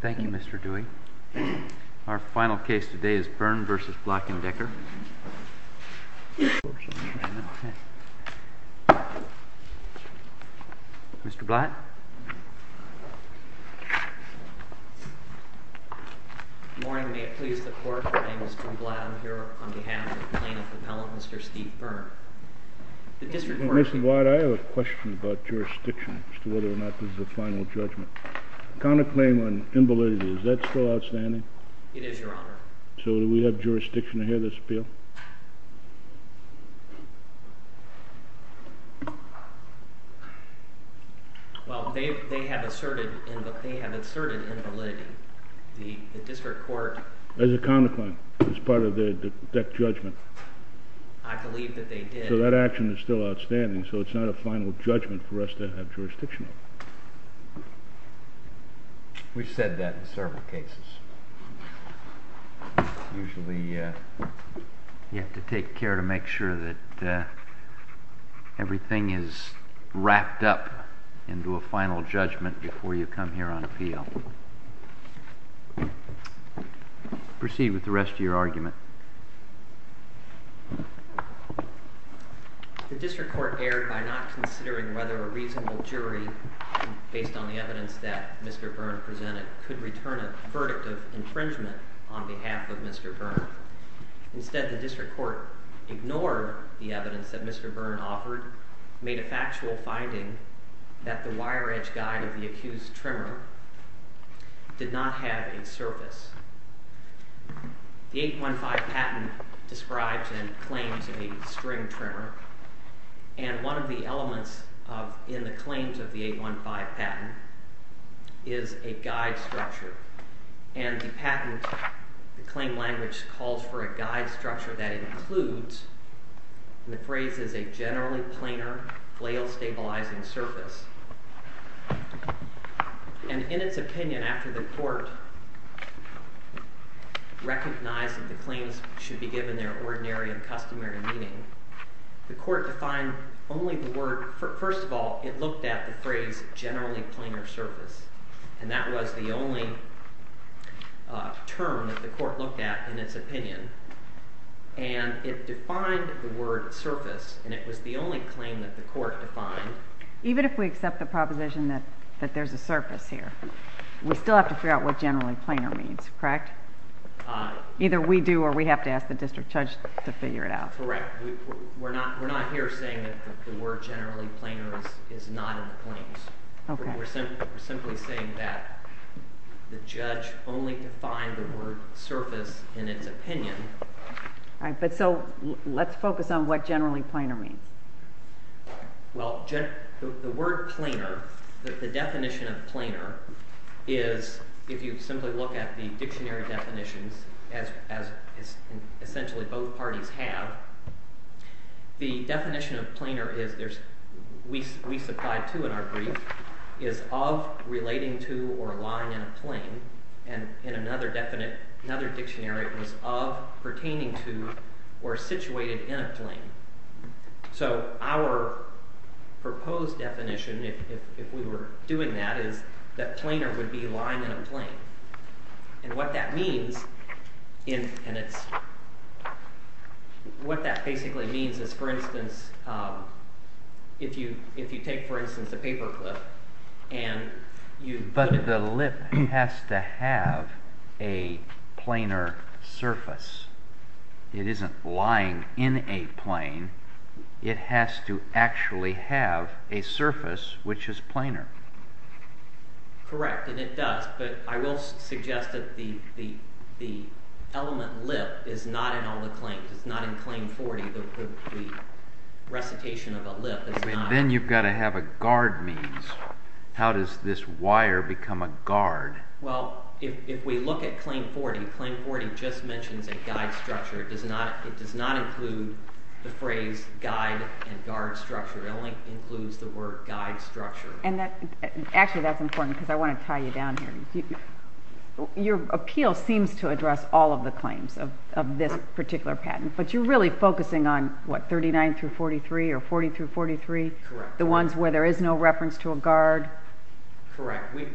Thank you, Mr. Dewey. Our final case today is Byrne v. Black & Decker. Mr. Blatt? Good morning. May it please the Court, my name is Drew Blatt. I'm here on behalf of the Plaintiff Appellant, Mr. Steve Byrne. Mr. Blatt, I have a question about jurisdiction as to whether or not this is a final judgment. The counterclaim on invalidity, is that still outstanding? It is, Your Honor. So do we have jurisdiction to hear this appeal? Well, they have asserted invalidity. The district court... There's a counterclaim. It's part of the Decker judgment. I believe that they did... So that action is still outstanding, so it's not a final judgment for us to have jurisdiction on. We've said that in several cases. Usually, you have to take care to make sure that everything is wrapped up into a final judgment before you come here on appeal. Proceed with the rest of your argument. The district court erred by not considering whether a reasonable jury, based on the evidence that Mr. Byrne presented, could return a verdict of infringement on behalf of Mr. Byrne. Instead, the district court ignored the evidence that Mr. Byrne offered, made a factual finding that the wire edge guide of the accused trimmer did not have a surface. The 815 patent describes and claims a string trimmer, and one of the elements in the claims of the 815 patent is a guide structure. And the patent claim language calls for a guide structure that includes, and the phrase is, a generally planar flail-stabilizing surface. And in its opinion, after the court recognized that the claims should be given their ordinary and customary meaning, the court defined only the word... First of all, it looked at the phrase generally planar surface, and that was the only term that the court looked at in its opinion. And it defined the word surface, and it was the only claim that the court defined. Even if we accept the proposition that there's a surface here, we still have to figure out what generally planar means, correct? Either we do, or we have to ask the district judge to figure it out. Correct. We're not here saying that the word generally planar is not in the claims. We're simply saying that the judge only defined the word surface in its opinion. Right, but so let's focus on what generally planar means. Well, the word planar, the definition of planar is, if you simply look at the dictionary definitions, as essentially both parties have, the definition of planar is, we supplied to in our brief, is of, relating to, or lying in a claim. And in another dictionary it was of, pertaining to, or situated in a claim. So our proposed definition, if we were doing that, is that planar would be lying in a claim. And what that means, and it's, what that basically means is, for instance, if you take, for instance, a paper clip, and you put it... it has to actually have a surface which is planar. Correct, and it does, but I will suggest that the element lip is not in all the claims. It's not in Claim 40, the recitation of a lip is not... Then you've got to have a guard means. How does this wire become a guard? Well, if we look at Claim 40, Claim 40 just mentions a guide structure. It does not include the phrase guide and guard structure. It only includes the word guide structure. And that, actually that's important because I want to tie you down here. Your appeal seems to address all of the claims of this particular patent, but you're really focusing on, what, 39 through 43, or 40 through 43? Correct. The ones where there is no reference to a guard? Correct. We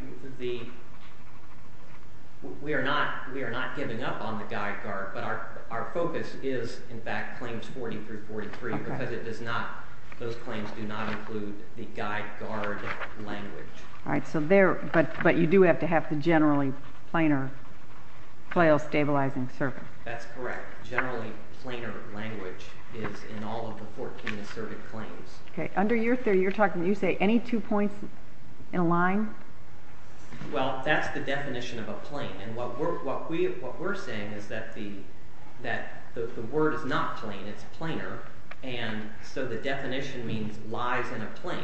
are not giving up on the guide guard, but our focus is, in fact, Claims 40 through 43, because it does not, those claims do not include the guide guard language. Alright, so there, but you do have to have the generally planar, PLAO stabilizing surface. That's correct. Generally planar language is in all of the 14 asserted claims. Under your theory, you're talking, you say any two points in a line? Well, that's the definition of a plane, and what we're saying is that the word is not plane, it's planar, and so the definition means lies in a plane.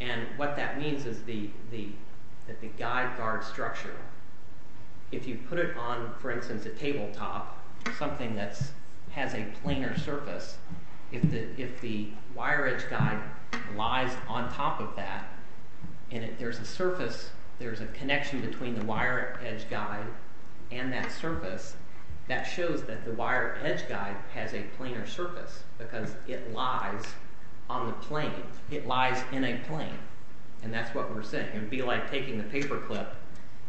And what that means is that the guide guard structure, if you put it on, for instance, a table top, something that has a planar surface, if the wire edge guide lies on top of that, and if there's a surface, there's a connection between the wire edge guide and that surface, that shows that the wire edge guide has a planar surface, because it lies on the plane. It lies in a plane, and that's what we're saying. It would be like taking a paper clip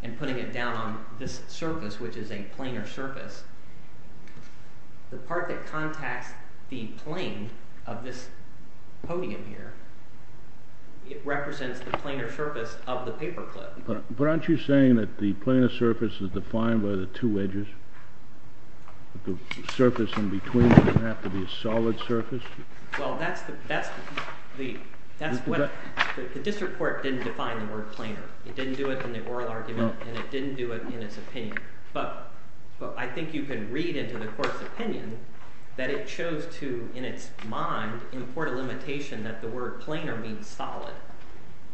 and putting it down on this surface, which is a planar surface. The part that contacts the plane of this podium here, it represents the planar surface of the paper clip. But aren't you saying that the planar surface is defined by the two edges? The surface in between doesn't have to be a solid surface? Well, that's what – the district court didn't define the word planar. It didn't do it in the oral argument, and it didn't do it in its opinion. But I think you can read into the court's opinion that it chose to, in its mind, import a limitation that the word planar means solid.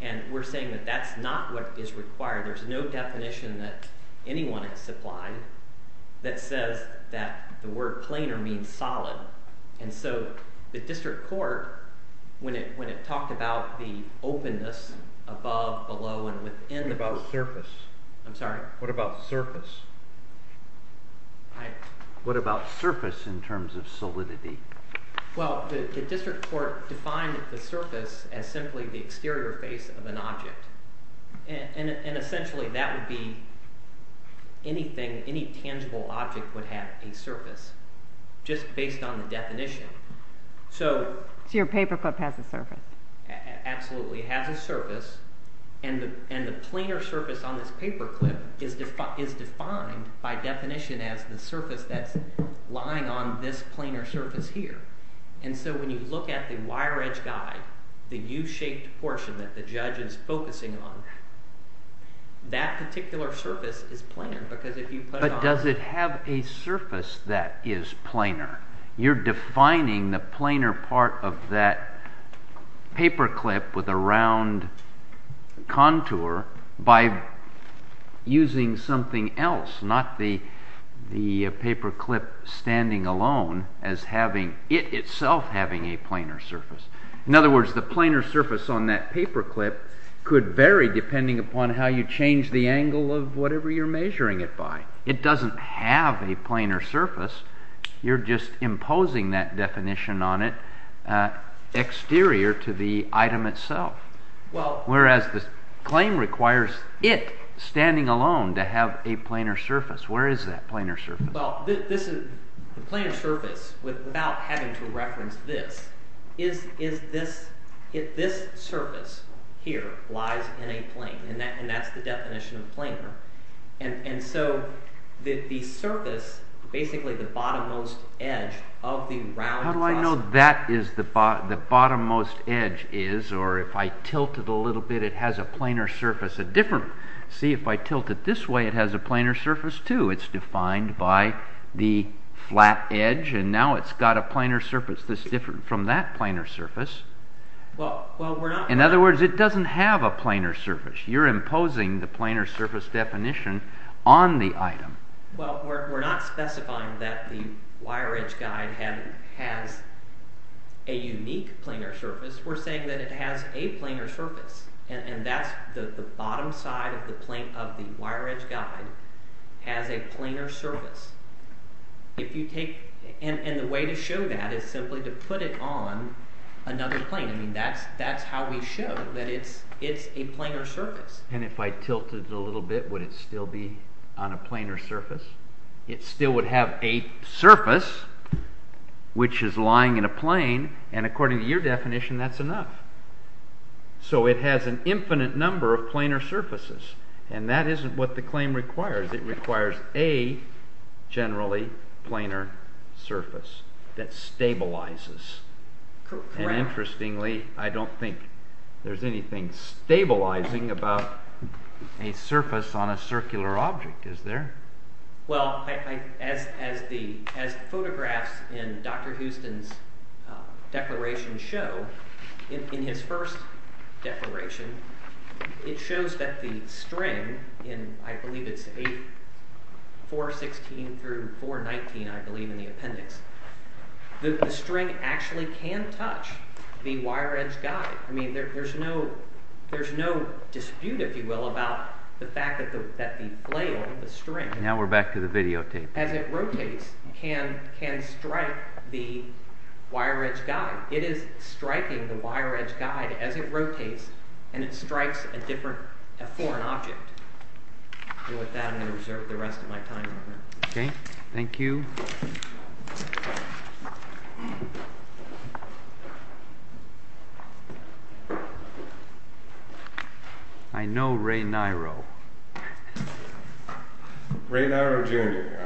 And we're saying that that's not what is required. There's no definition that anyone has supplied that says that the word planar means solid. And so the district court, when it talked about the openness above, below, and within the – What about surface? I'm sorry? What about surface? What about surface in terms of solidity? Well, the district court defined the surface as simply the exterior face of an object. And essentially that would be anything – any tangible object would have a surface just based on the definition. So your paper clip has a surface? Absolutely. It has a surface, and the planar surface on this paper clip is defined by definition as the surface that's lying on this planar surface here. And so when you look at the wire edge guide, the U-shaped portion that the judge is focusing on, that particular surface is planar because if you put it on – But does it have a surface that is planar? You're defining the planar part of that paper clip with a round contour by using something else, not the paper clip standing alone as having – it itself having a planar surface. In other words, the planar surface on that paper clip could vary depending upon how you change the angle of whatever you're measuring it by. It doesn't have a planar surface. You're just imposing that definition on it exterior to the item itself, whereas the claim requires it standing alone to have a planar surface. Where is that planar surface? Well, the planar surface, without having to reference this, is this – this surface here lies in a plane, and that's the definition of planar. And so the surface, basically the bottom-most edge of the round – How do I know that is the bottom-most edge is, or if I tilt it a little bit, it has a planar surface, a different – see, if I tilt it this way, it has a planar surface too. It's defined by the flat edge, and now it's got a planar surface that's different from that planar surface. Well, we're not – Well, we're not specifying that the wire edge guide has a unique planar surface. We're saying that it has a planar surface, and that's – the bottom side of the wire edge guide has a planar surface. If you take – and the way to show that is simply to put it on another plane. I mean, that's how we show that it's a planar surface. And if I tilted it a little bit, would it still be on a planar surface? It still would have a surface which is lying in a plane, and according to your definition, that's enough. So it has an infinite number of planar surfaces, and that isn't what the claim requires. It requires a, generally, planar surface that stabilizes. Correct. And interestingly, I don't think there's anything stabilizing about a surface on a circular object, is there? Well, as photographs in Dr. Houston's declaration show, in his first declaration, it shows that the string, and I believe it's 416 through 419, I believe, in the appendix, that the string actually can touch the wire edge guide. I mean, there's no dispute, if you will, about the fact that the flail, the string— Now we're back to the videotape. —as it rotates, can strike the wire edge guide. It is striking the wire edge guide as it rotates, and it strikes a different, a foreign object. And with that, I'm going to reserve the rest of my time. Okay, thank you. I know Ray Niro. Ray Niro, Jr., Your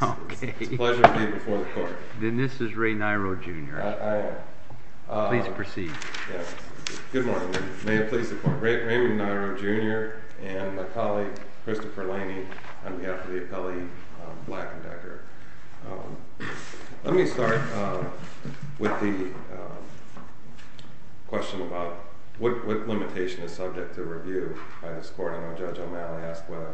Honor. Okay. It's a pleasure to be before the court. Then this is Ray Niro, Jr. I am. Please proceed. Yes. Good morning. May it please the Court. Raymond Niro, Jr. and my colleague, Christopher Laney, on behalf of the appellee Black and Decker. Let me start with the question about what limitation is subject to review by this court. I know Judge O'Malley asked whether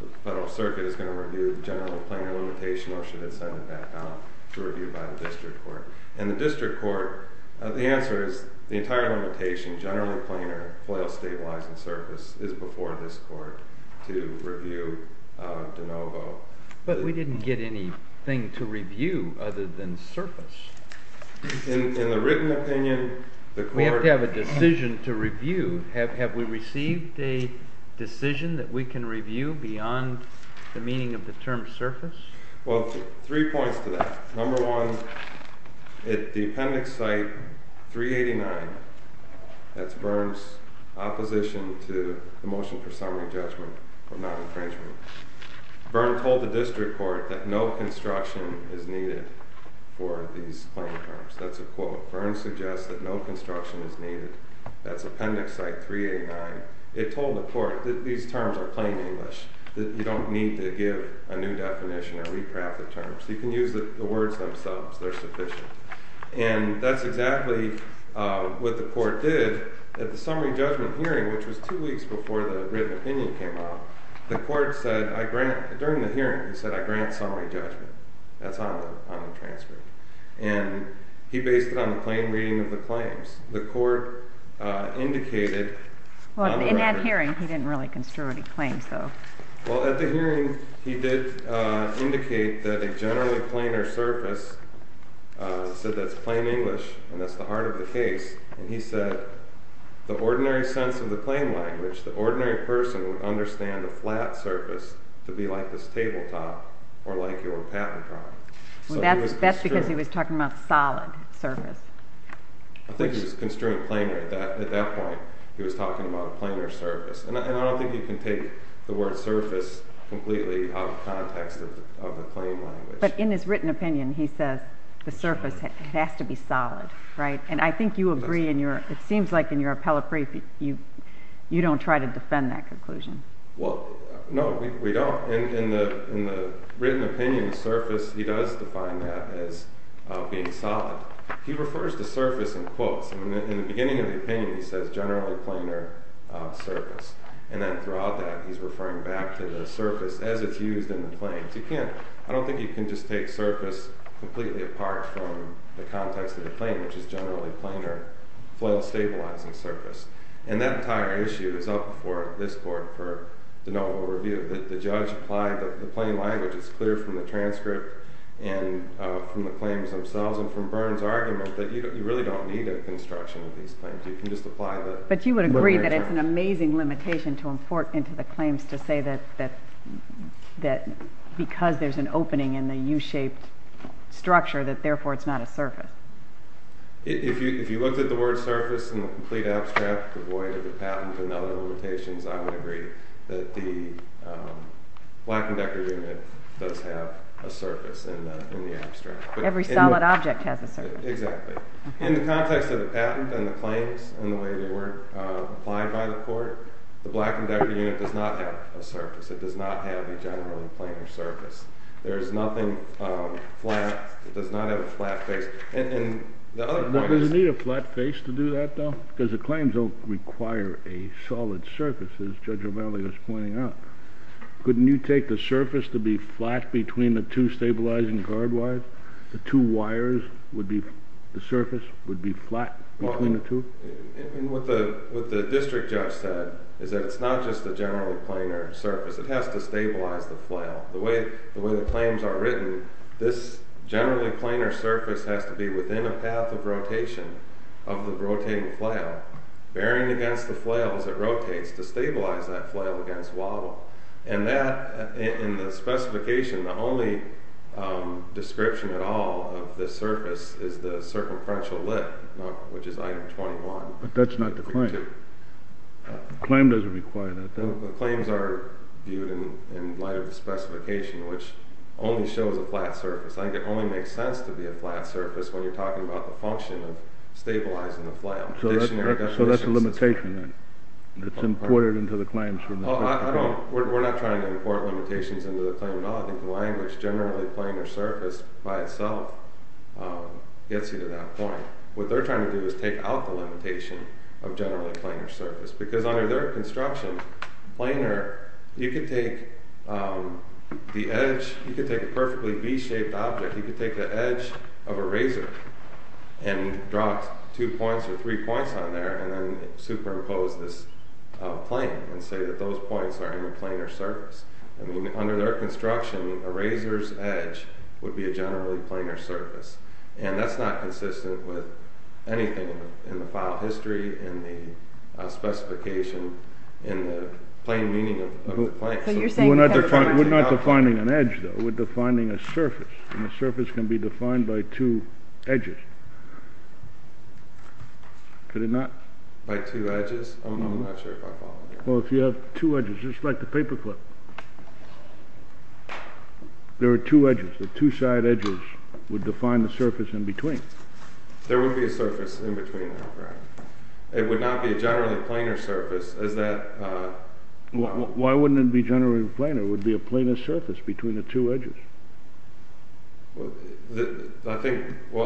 the Federal Circuit is going to review the general planar limitation, or should it send it back out to review by the district court. And the district court, the answer is the entire limitation, general planar, flail, stabilize, and surface, is before this court to review de novo. But we didn't get anything to review other than surface. In the written opinion, the court— We have to have a decision to review. Have we received a decision that we can review beyond the meaning of the term surface? Well, three points to that. Number one, at the appendix site 389, that's Byrne's opposition to the motion for summary judgment for non-infringement. Byrne told the district court that no construction is needed for these plain terms. That's a quote. Byrne suggests that no construction is needed. That's appendix site 389. It told the court that these terms are plain English, that you don't need to give a new definition or re-craft the terms. You can use the words themselves. They're sufficient. And that's exactly what the court did at the summary judgment hearing, which was two weeks before the written opinion came out. The court said, during the hearing, it said, I grant summary judgment. That's on the transcript. And he based it on the plain reading of the claims. The court indicated— In that hearing, he didn't really construe any claims, though. Well, at the hearing, he did indicate that a generally plainer surface said that's plain English and that's the heart of the case. And he said, the ordinary sense of the plain language, the ordinary person would understand a flat surface to be like this tabletop or like your patent drawing. That's because he was talking about a solid surface. I think he was construing plainer. At that point, he was talking about a plainer surface. And I don't think you can take the word surface completely out of context of the plain language. But in his written opinion, he says the surface has to be solid, right? And I think you agree. It seems like in your appellate brief, you don't try to defend that conclusion. Well, no, we don't. In the written opinion, the surface, he does define that as being solid. He refers to surface in quotes. In the beginning of the opinion, he says generally plainer surface. And then throughout that, he's referring back to the surface as it's used in the claims. I don't think you can just take surface completely apart from the context of the claim, which is generally plainer, flat, stabilizing surface. And that entire issue is up for this court for de novo review. The judge applied the plain language. It's clear from the transcript and from the claims themselves and from Byrne's argument that you really don't need a construction of these claims. You can just apply the literature. into the claims to say that because there's an opening in the U-shaped structure, that therefore it's not a surface. If you looked at the word surface in the complete abstract, the void of the patent and other limitations, I would agree that the black and decker unit does have a surface in the abstract. Every solid object has a surface. Exactly. In the context of the patent and the claims and the way they were applied by the court, the black and decker unit does not have a surface. It does not have a generally plainer surface. There is nothing flat. It does not have a flat face. And the other point is. Does it need a flat face to do that, though? Because the claims don't require a solid surface, as Judge O'Malley was pointing out. Couldn't you take the surface to be flat between the two stabilizing guard wires? The two wires would be, the surface would be flat between the two? What the district judge said is that it's not just a generally plainer surface. It has to stabilize the flail. The way the claims are written, this generally plainer surface has to be within a path of rotation of the rotating flail. Bearing against the flail as it rotates to stabilize that flail against wobble. And that in the specification, the only description at all of the surface is the circumferential lip, which is item 21. But that's not the claim. The claim doesn't require that. The claims are viewed in light of the specification, which only shows a flat surface. I think it only makes sense to be a flat surface when you're talking about the function of stabilizing the flail. So that's a limitation then. It's imported into the claims from the specification. We're not trying to import limitations into the claim at all. I think the language generally plainer surface by itself gets you to that point. What they're trying to do is take out the limitation of generally plainer surface. Because under their construction, plainer, you could take the edge, you could take a perfectly V-shaped object, you could take the edge of a razor and drop two points or three points on there and then superimpose this plane and say that those points are in a plainer surface. Under their construction, a razor's edge would be a generally plainer surface. And that's not consistent with anything in the file history, in the specification, in the plain meaning of the plane. We're not defining an edge, though. We're defining a surface. And a surface can be defined by two edges. Could it not? By two edges? I'm not sure if I follow you. Well, if you have two edges, just like the paper clip, there are two edges. The two side edges would define the surface in between. There would be a surface in between, right? It would not be a generally plainer surface. Why wouldn't it be generally plainer? It would be a plainer surface between the two edges.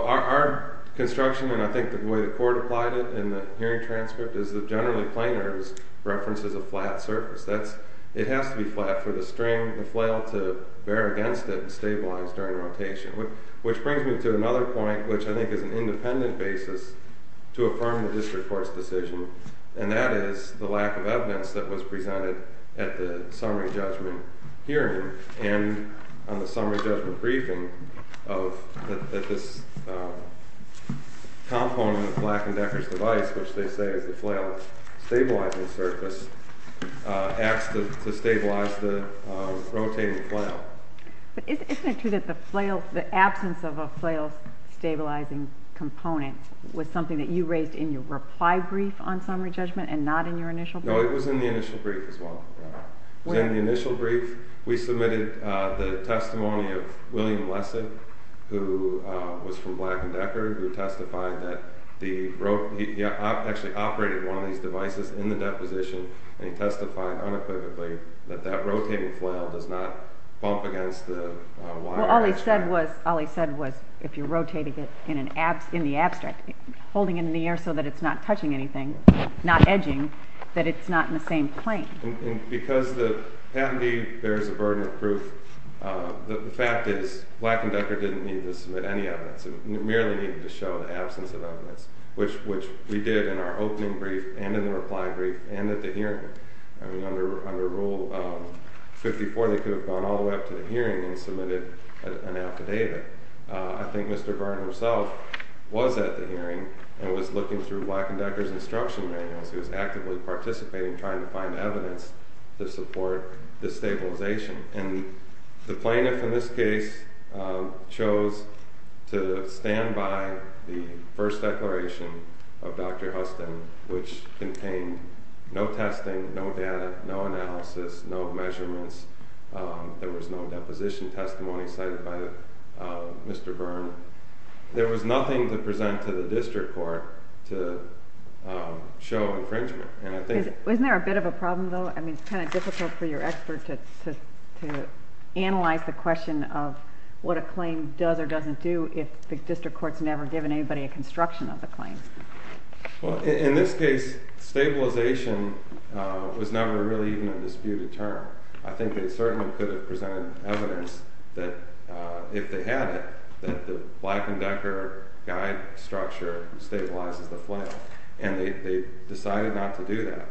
Our construction, and I think the way the court applied it in the hearing transcript, is that generally plainer references a flat surface. It has to be flat for the flail to bear against it and stabilize during rotation. Which brings me to another point, which I think is an independent basis to affirm the district court's decision. And that is the lack of evidence that was presented at the summary judgment hearing, and on the summary judgment briefing, that this component of Black and Decker's device, which they say is the flail's stabilizing surface, acts to stabilize the rotating flail. But isn't it true that the absence of a flail's stabilizing component was something that you raised in your reply brief on summary judgment and not in your initial brief? No, it was in the initial brief as well. In the initial brief, we submitted the testimony of William Lessig, who was from Black and Decker, who testified that he actually operated one of these devices in the deposition, and he testified unequivocally that that rotating flail does not bump against the wire. Well, all he said was, if you're rotating it in the abstract, holding it in the air so that it's not touching anything, not edging, that it's not in the same plane. And because the patentee bears the burden of proof, the fact is Black and Decker didn't need to submit any evidence. It merely needed to show the absence of evidence, which we did in our opening brief and in the reply brief and at the hearing. Under Rule 54, they could have gone all the way up to the hearing and submitted an affidavit. I think Mr. Burton himself was at the hearing and was looking through Black and Decker's instruction manuals. He was actively participating, trying to find evidence to support the stabilization. And the plaintiff in this case chose to stand by the first declaration of Dr. Huston, which contained no testing, no data, no analysis, no measurements. There was no deposition testimony cited by Mr. Byrne. There was nothing to present to the district court to show infringement. Isn't there a bit of a problem, though? I mean, it's kind of difficult for your expert to analyze the question of what a claim does or doesn't do if the district court's never given anybody a construction of the claim. Well, in this case, stabilization was never really even a disputed term. I think they certainly could have presented evidence that if they had it, that the Black and Decker guide structure stabilizes the claim. And they decided not to do that.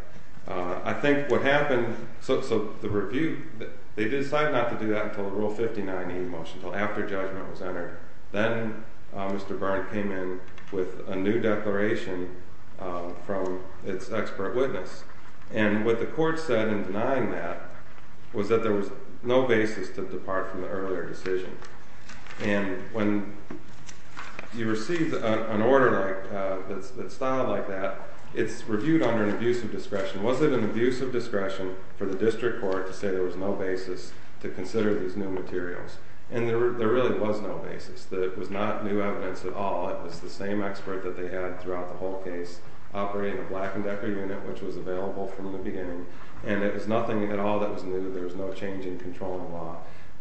I think what happened, so the review, they decided not to do that until Rule 59E motion, until after judgment was entered. Then Mr. Byrne came in with a new declaration from its expert witness. And what the court said in denying that was that there was no basis to depart from the earlier decision. And when you receive an order that's styled like that, it's reviewed under an abuse of discretion. Was it an abuse of discretion for the district court to say there was no basis to consider these new materials? And there really was no basis. It was not new evidence at all. It was the same expert that they had throughout the whole case operating a Black and Decker unit, which was available from the beginning. And it was nothing at all that was new. There was no change in controlling law.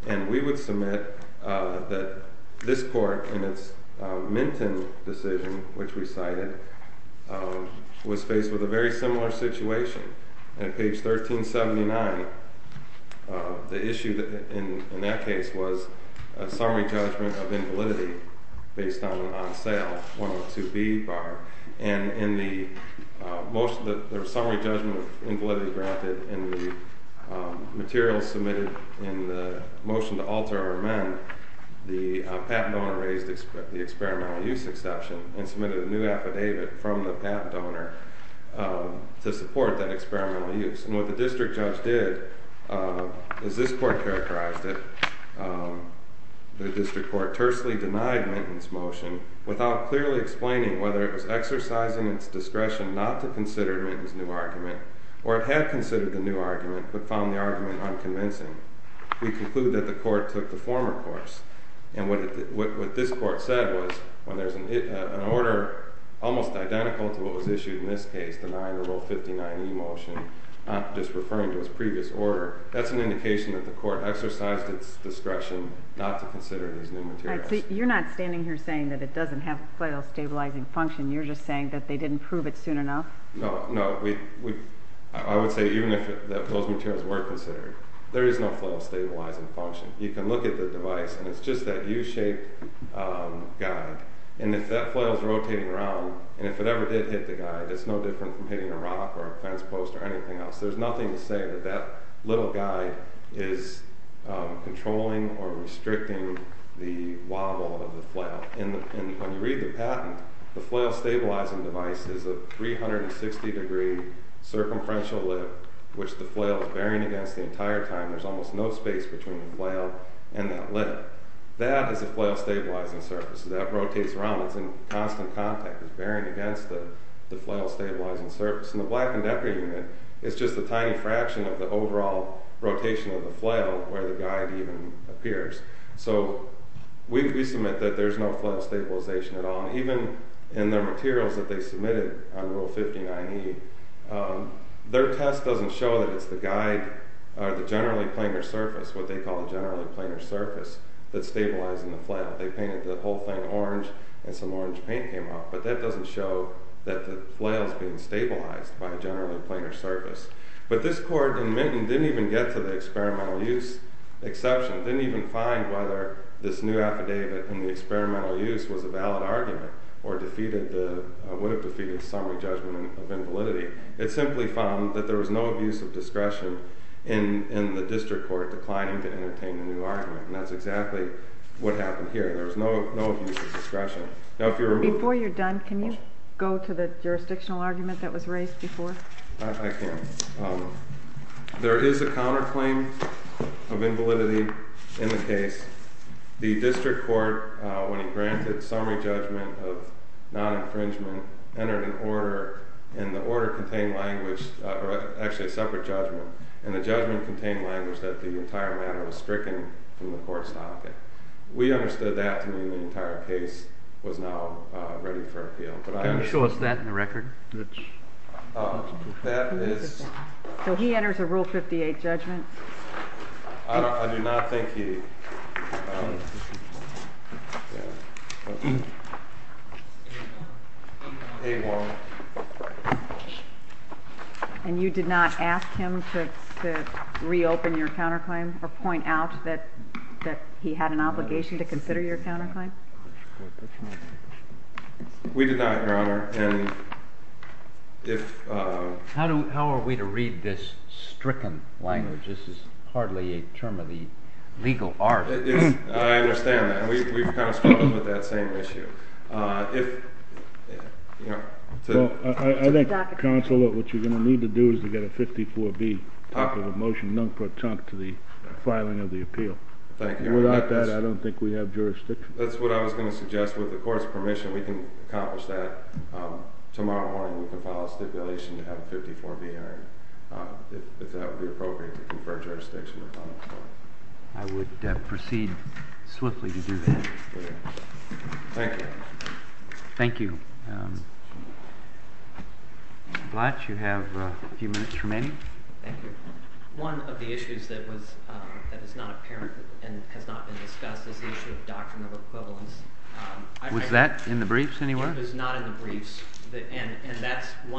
And we would submit that this court, in its Minton decision, which we cited, was faced with a very similar situation. At page 1379, the issue in that case was a summary judgment of invalidity based on sale, 102B, Barr. And in the summary judgment of invalidity granted in the materials submitted in the motion to alter or amend, the patent owner raised the experimental use exception and submitted a new affidavit from the patent donor to support that experimental use. And what the district judge did is this court characterized it. The district court tersely denied Minton's motion without clearly explaining whether it was exercising its discretion not to consider Minton's new argument, or it had considered the new argument but found the argument unconvincing. We conclude that the court took the former course. And what this court said was when there's an order almost identical to what was issued in this case denying the Rule 59e motion, not just referring to its previous order, that's an indication that the court exercised its discretion not to consider these new materials. You're not standing here saying that it doesn't have flail stabilizing function. You're just saying that they didn't prove it soon enough? No, no. I would say even if those materials were considered, there is no flail stabilizing function. You can look at the device, and it's just that U-shaped guide. And if that flail is rotating around, and if it ever did hit the guide, it's no different from hitting a rock or a fence post or anything else. There's nothing to say that that little guide is controlling or restricting the wobble of the flail. And when you read the patent, the flail stabilizing device is a 360-degree circumferential lip which the flail is bearing against the entire time. There's almost no space between the flail and that lip. That is a flail stabilizing surface. That rotates around. It's in constant contact. It's bearing against the flail stabilizing surface. And the Black and Decker unit is just a tiny fraction of the overall rotation of the flail where the guide even appears. So we submit that there's no flail stabilization at all. And even in the materials that they submitted on Rule 59E, their test doesn't show that it's the guide or the generally planar surface, what they call a generally planar surface, that's stabilizing the flail. They painted the whole thing orange, and some orange paint came off. But that doesn't show that the flail is being stabilized by a generally planar surface. But this court in Minton didn't even get to the experimental use exception, didn't even find whether this new affidavit in the experimental use was a valid argument or would have defeated summary judgment of invalidity. It simply found that there was no abuse of discretion in the district court declining to entertain a new argument. And that's exactly what happened here. There was no abuse of discretion. Before you're done, can you go to the jurisdictional argument that was raised before? I can. There is a counterclaim of invalidity in the case. The district court, when it granted summary judgment of non-infringement, entered an order. And the order contained language, or actually a separate judgment. And the judgment contained language that the entire matter was stricken from the court's topic. We understood that to mean the entire case was now ready for appeal. Can you show us that in the record? That is... So he enters a Rule 58 judgment. I do not think he... And you did not ask him to reopen your counterclaim or point out that he had an obligation to consider your counterclaim? How are we to read this stricken language? This is hardly a term of the legal art. I understand that. We've kind of struggled with that same issue. I think, counsel, what you're going to need to do is to get a 54-B, top of the motion, non-partum to the filing of the appeal. Thank you. Without that, I don't think we have jurisdiction. That's what I was going to suggest. With the court's permission, we can accomplish that. Tomorrow morning, we can file a stipulation to have a 54-B hearing. If that would be appropriate to confer jurisdiction upon the court. I would proceed swiftly to do that. Thank you. Thank you. Blatch, you have a few minutes remaining. Thank you. One of the issues that is not apparent and has not been discussed is the issue of doctrine of equivalence. Was that in the briefs anywhere? It was not in the briefs.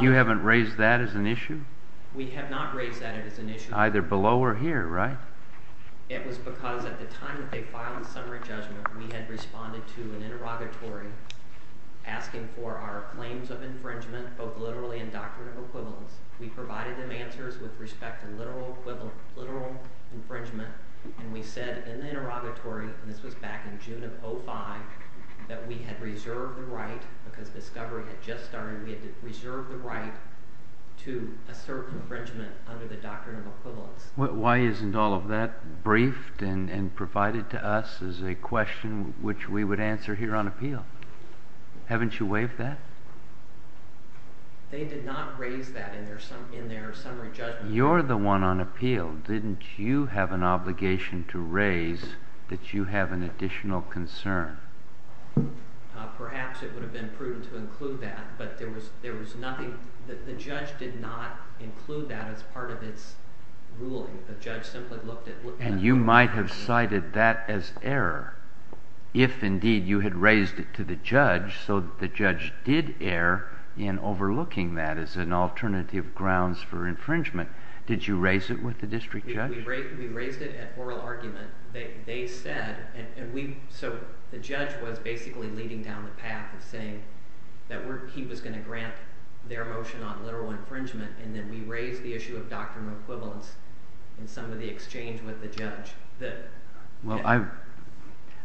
You haven't raised that as an issue? We have not raised that as an issue. Either below or here, right? It was because at the time that they filed the summary judgment, we had responded to an interrogatory asking for our claims of infringement, both literally and doctrine of equivalence. We provided them answers with respect to literal infringement. And we said in the interrogatory, and this was back in June of 2005, that we had reserved the right because discovery had just started. We had reserved the right to assert infringement under the doctrine of equivalence. Why isn't all of that briefed and provided to us as a question which we would answer here on appeal? Haven't you waived that? They did not raise that in their summary judgment. You're the one on appeal. Didn't you have an obligation to raise that you have an additional concern? Perhaps it would have been prudent to include that, but there was nothing. The judge did not include that as part of its ruling. And you might have cited that as error if, indeed, you had raised it to the judge so that the judge did err in overlooking that as an alternative grounds for infringement. Did you raise it with the district judge? We raised it at oral argument. So the judge was basically leading down the path of saying that he was going to grant their motion on literal infringement. And then we raised the issue of doctrine of equivalence in some of the exchange with the judge. Well,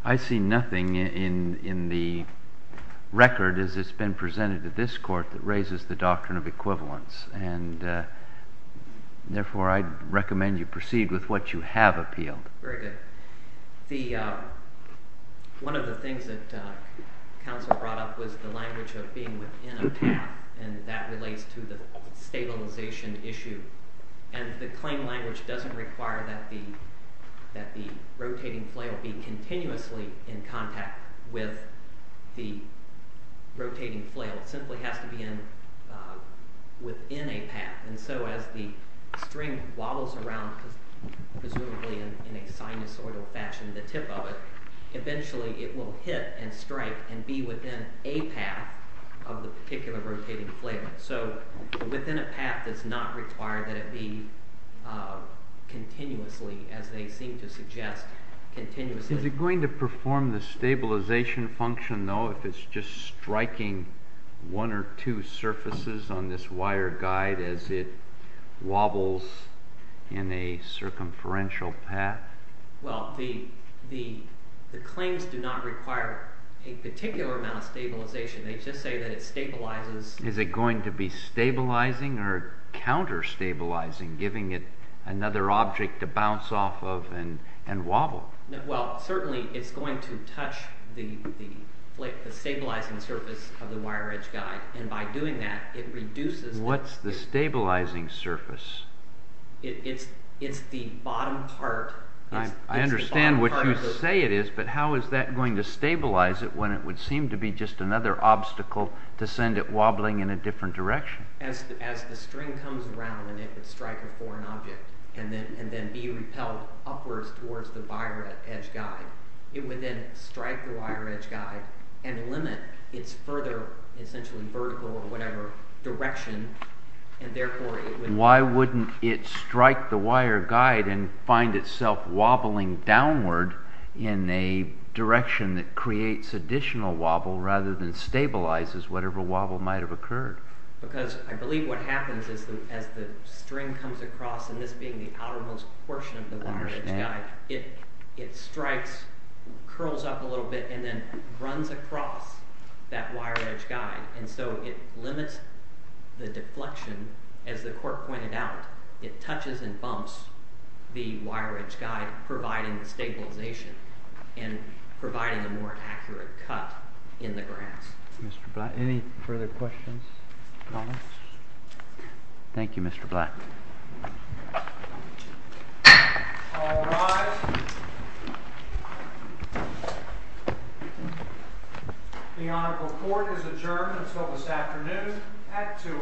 I see nothing in the record as it's been presented to this court that raises the doctrine of equivalence. And therefore, I'd recommend you proceed with what you have appealed. Very good. One of the things that counsel brought up was the language of being within a path, and that relates to the stabilization issue. And the claim language doesn't require that the rotating flail be continuously in contact with the rotating flail. It simply has to be within a path. And so as the string wobbles around, presumably in a sinusoidal fashion, the tip of it, eventually it will hit and strike and be within a path of the particular rotating flail. So within a path does not require that it be continuously, as they seem to suggest, continuously. Is it going to perform the stabilization function, though, if it's just striking one or two surfaces on this wire guide as it wobbles in a circumferential path? Well, the claims do not require a particular amount of stabilization. They just say that it stabilizes. Is it going to be stabilizing or counterstabilizing, giving it another object to bounce off of and wobble? Well, certainly it's going to touch the stabilizing surface of the wire edge guide. And by doing that, it reduces... What's the stabilizing surface? It's the bottom part. I understand what you say it is, but how is that going to stabilize it when it would seem to be just another obstacle to send it wobbling in a different direction? As the string comes around and it would strike a foreign object and then be repelled upwards towards the wire edge guide, it would then strike the wire edge guide and limit its further, essentially vertical or whatever, direction. And therefore it would... Why wouldn't it strike the wire guide and find itself wobbling downward in a direction that creates additional wobble rather than stabilizes whatever wobble might have occurred? Because I believe what happens is that as the string comes across, and this being the outermost portion of the wire edge guide, it strikes, curls up a little bit, and then runs across that wire edge guide. And so it limits the deflection. As the court pointed out, it touches and bumps the wire edge guide, providing the stabilization and providing a more accurate cut in the grass. Mr. Black, any further questions? Thank you, Mr. Black. All rise. The Honorable Court is adjourned until this afternoon at 2 o'clock.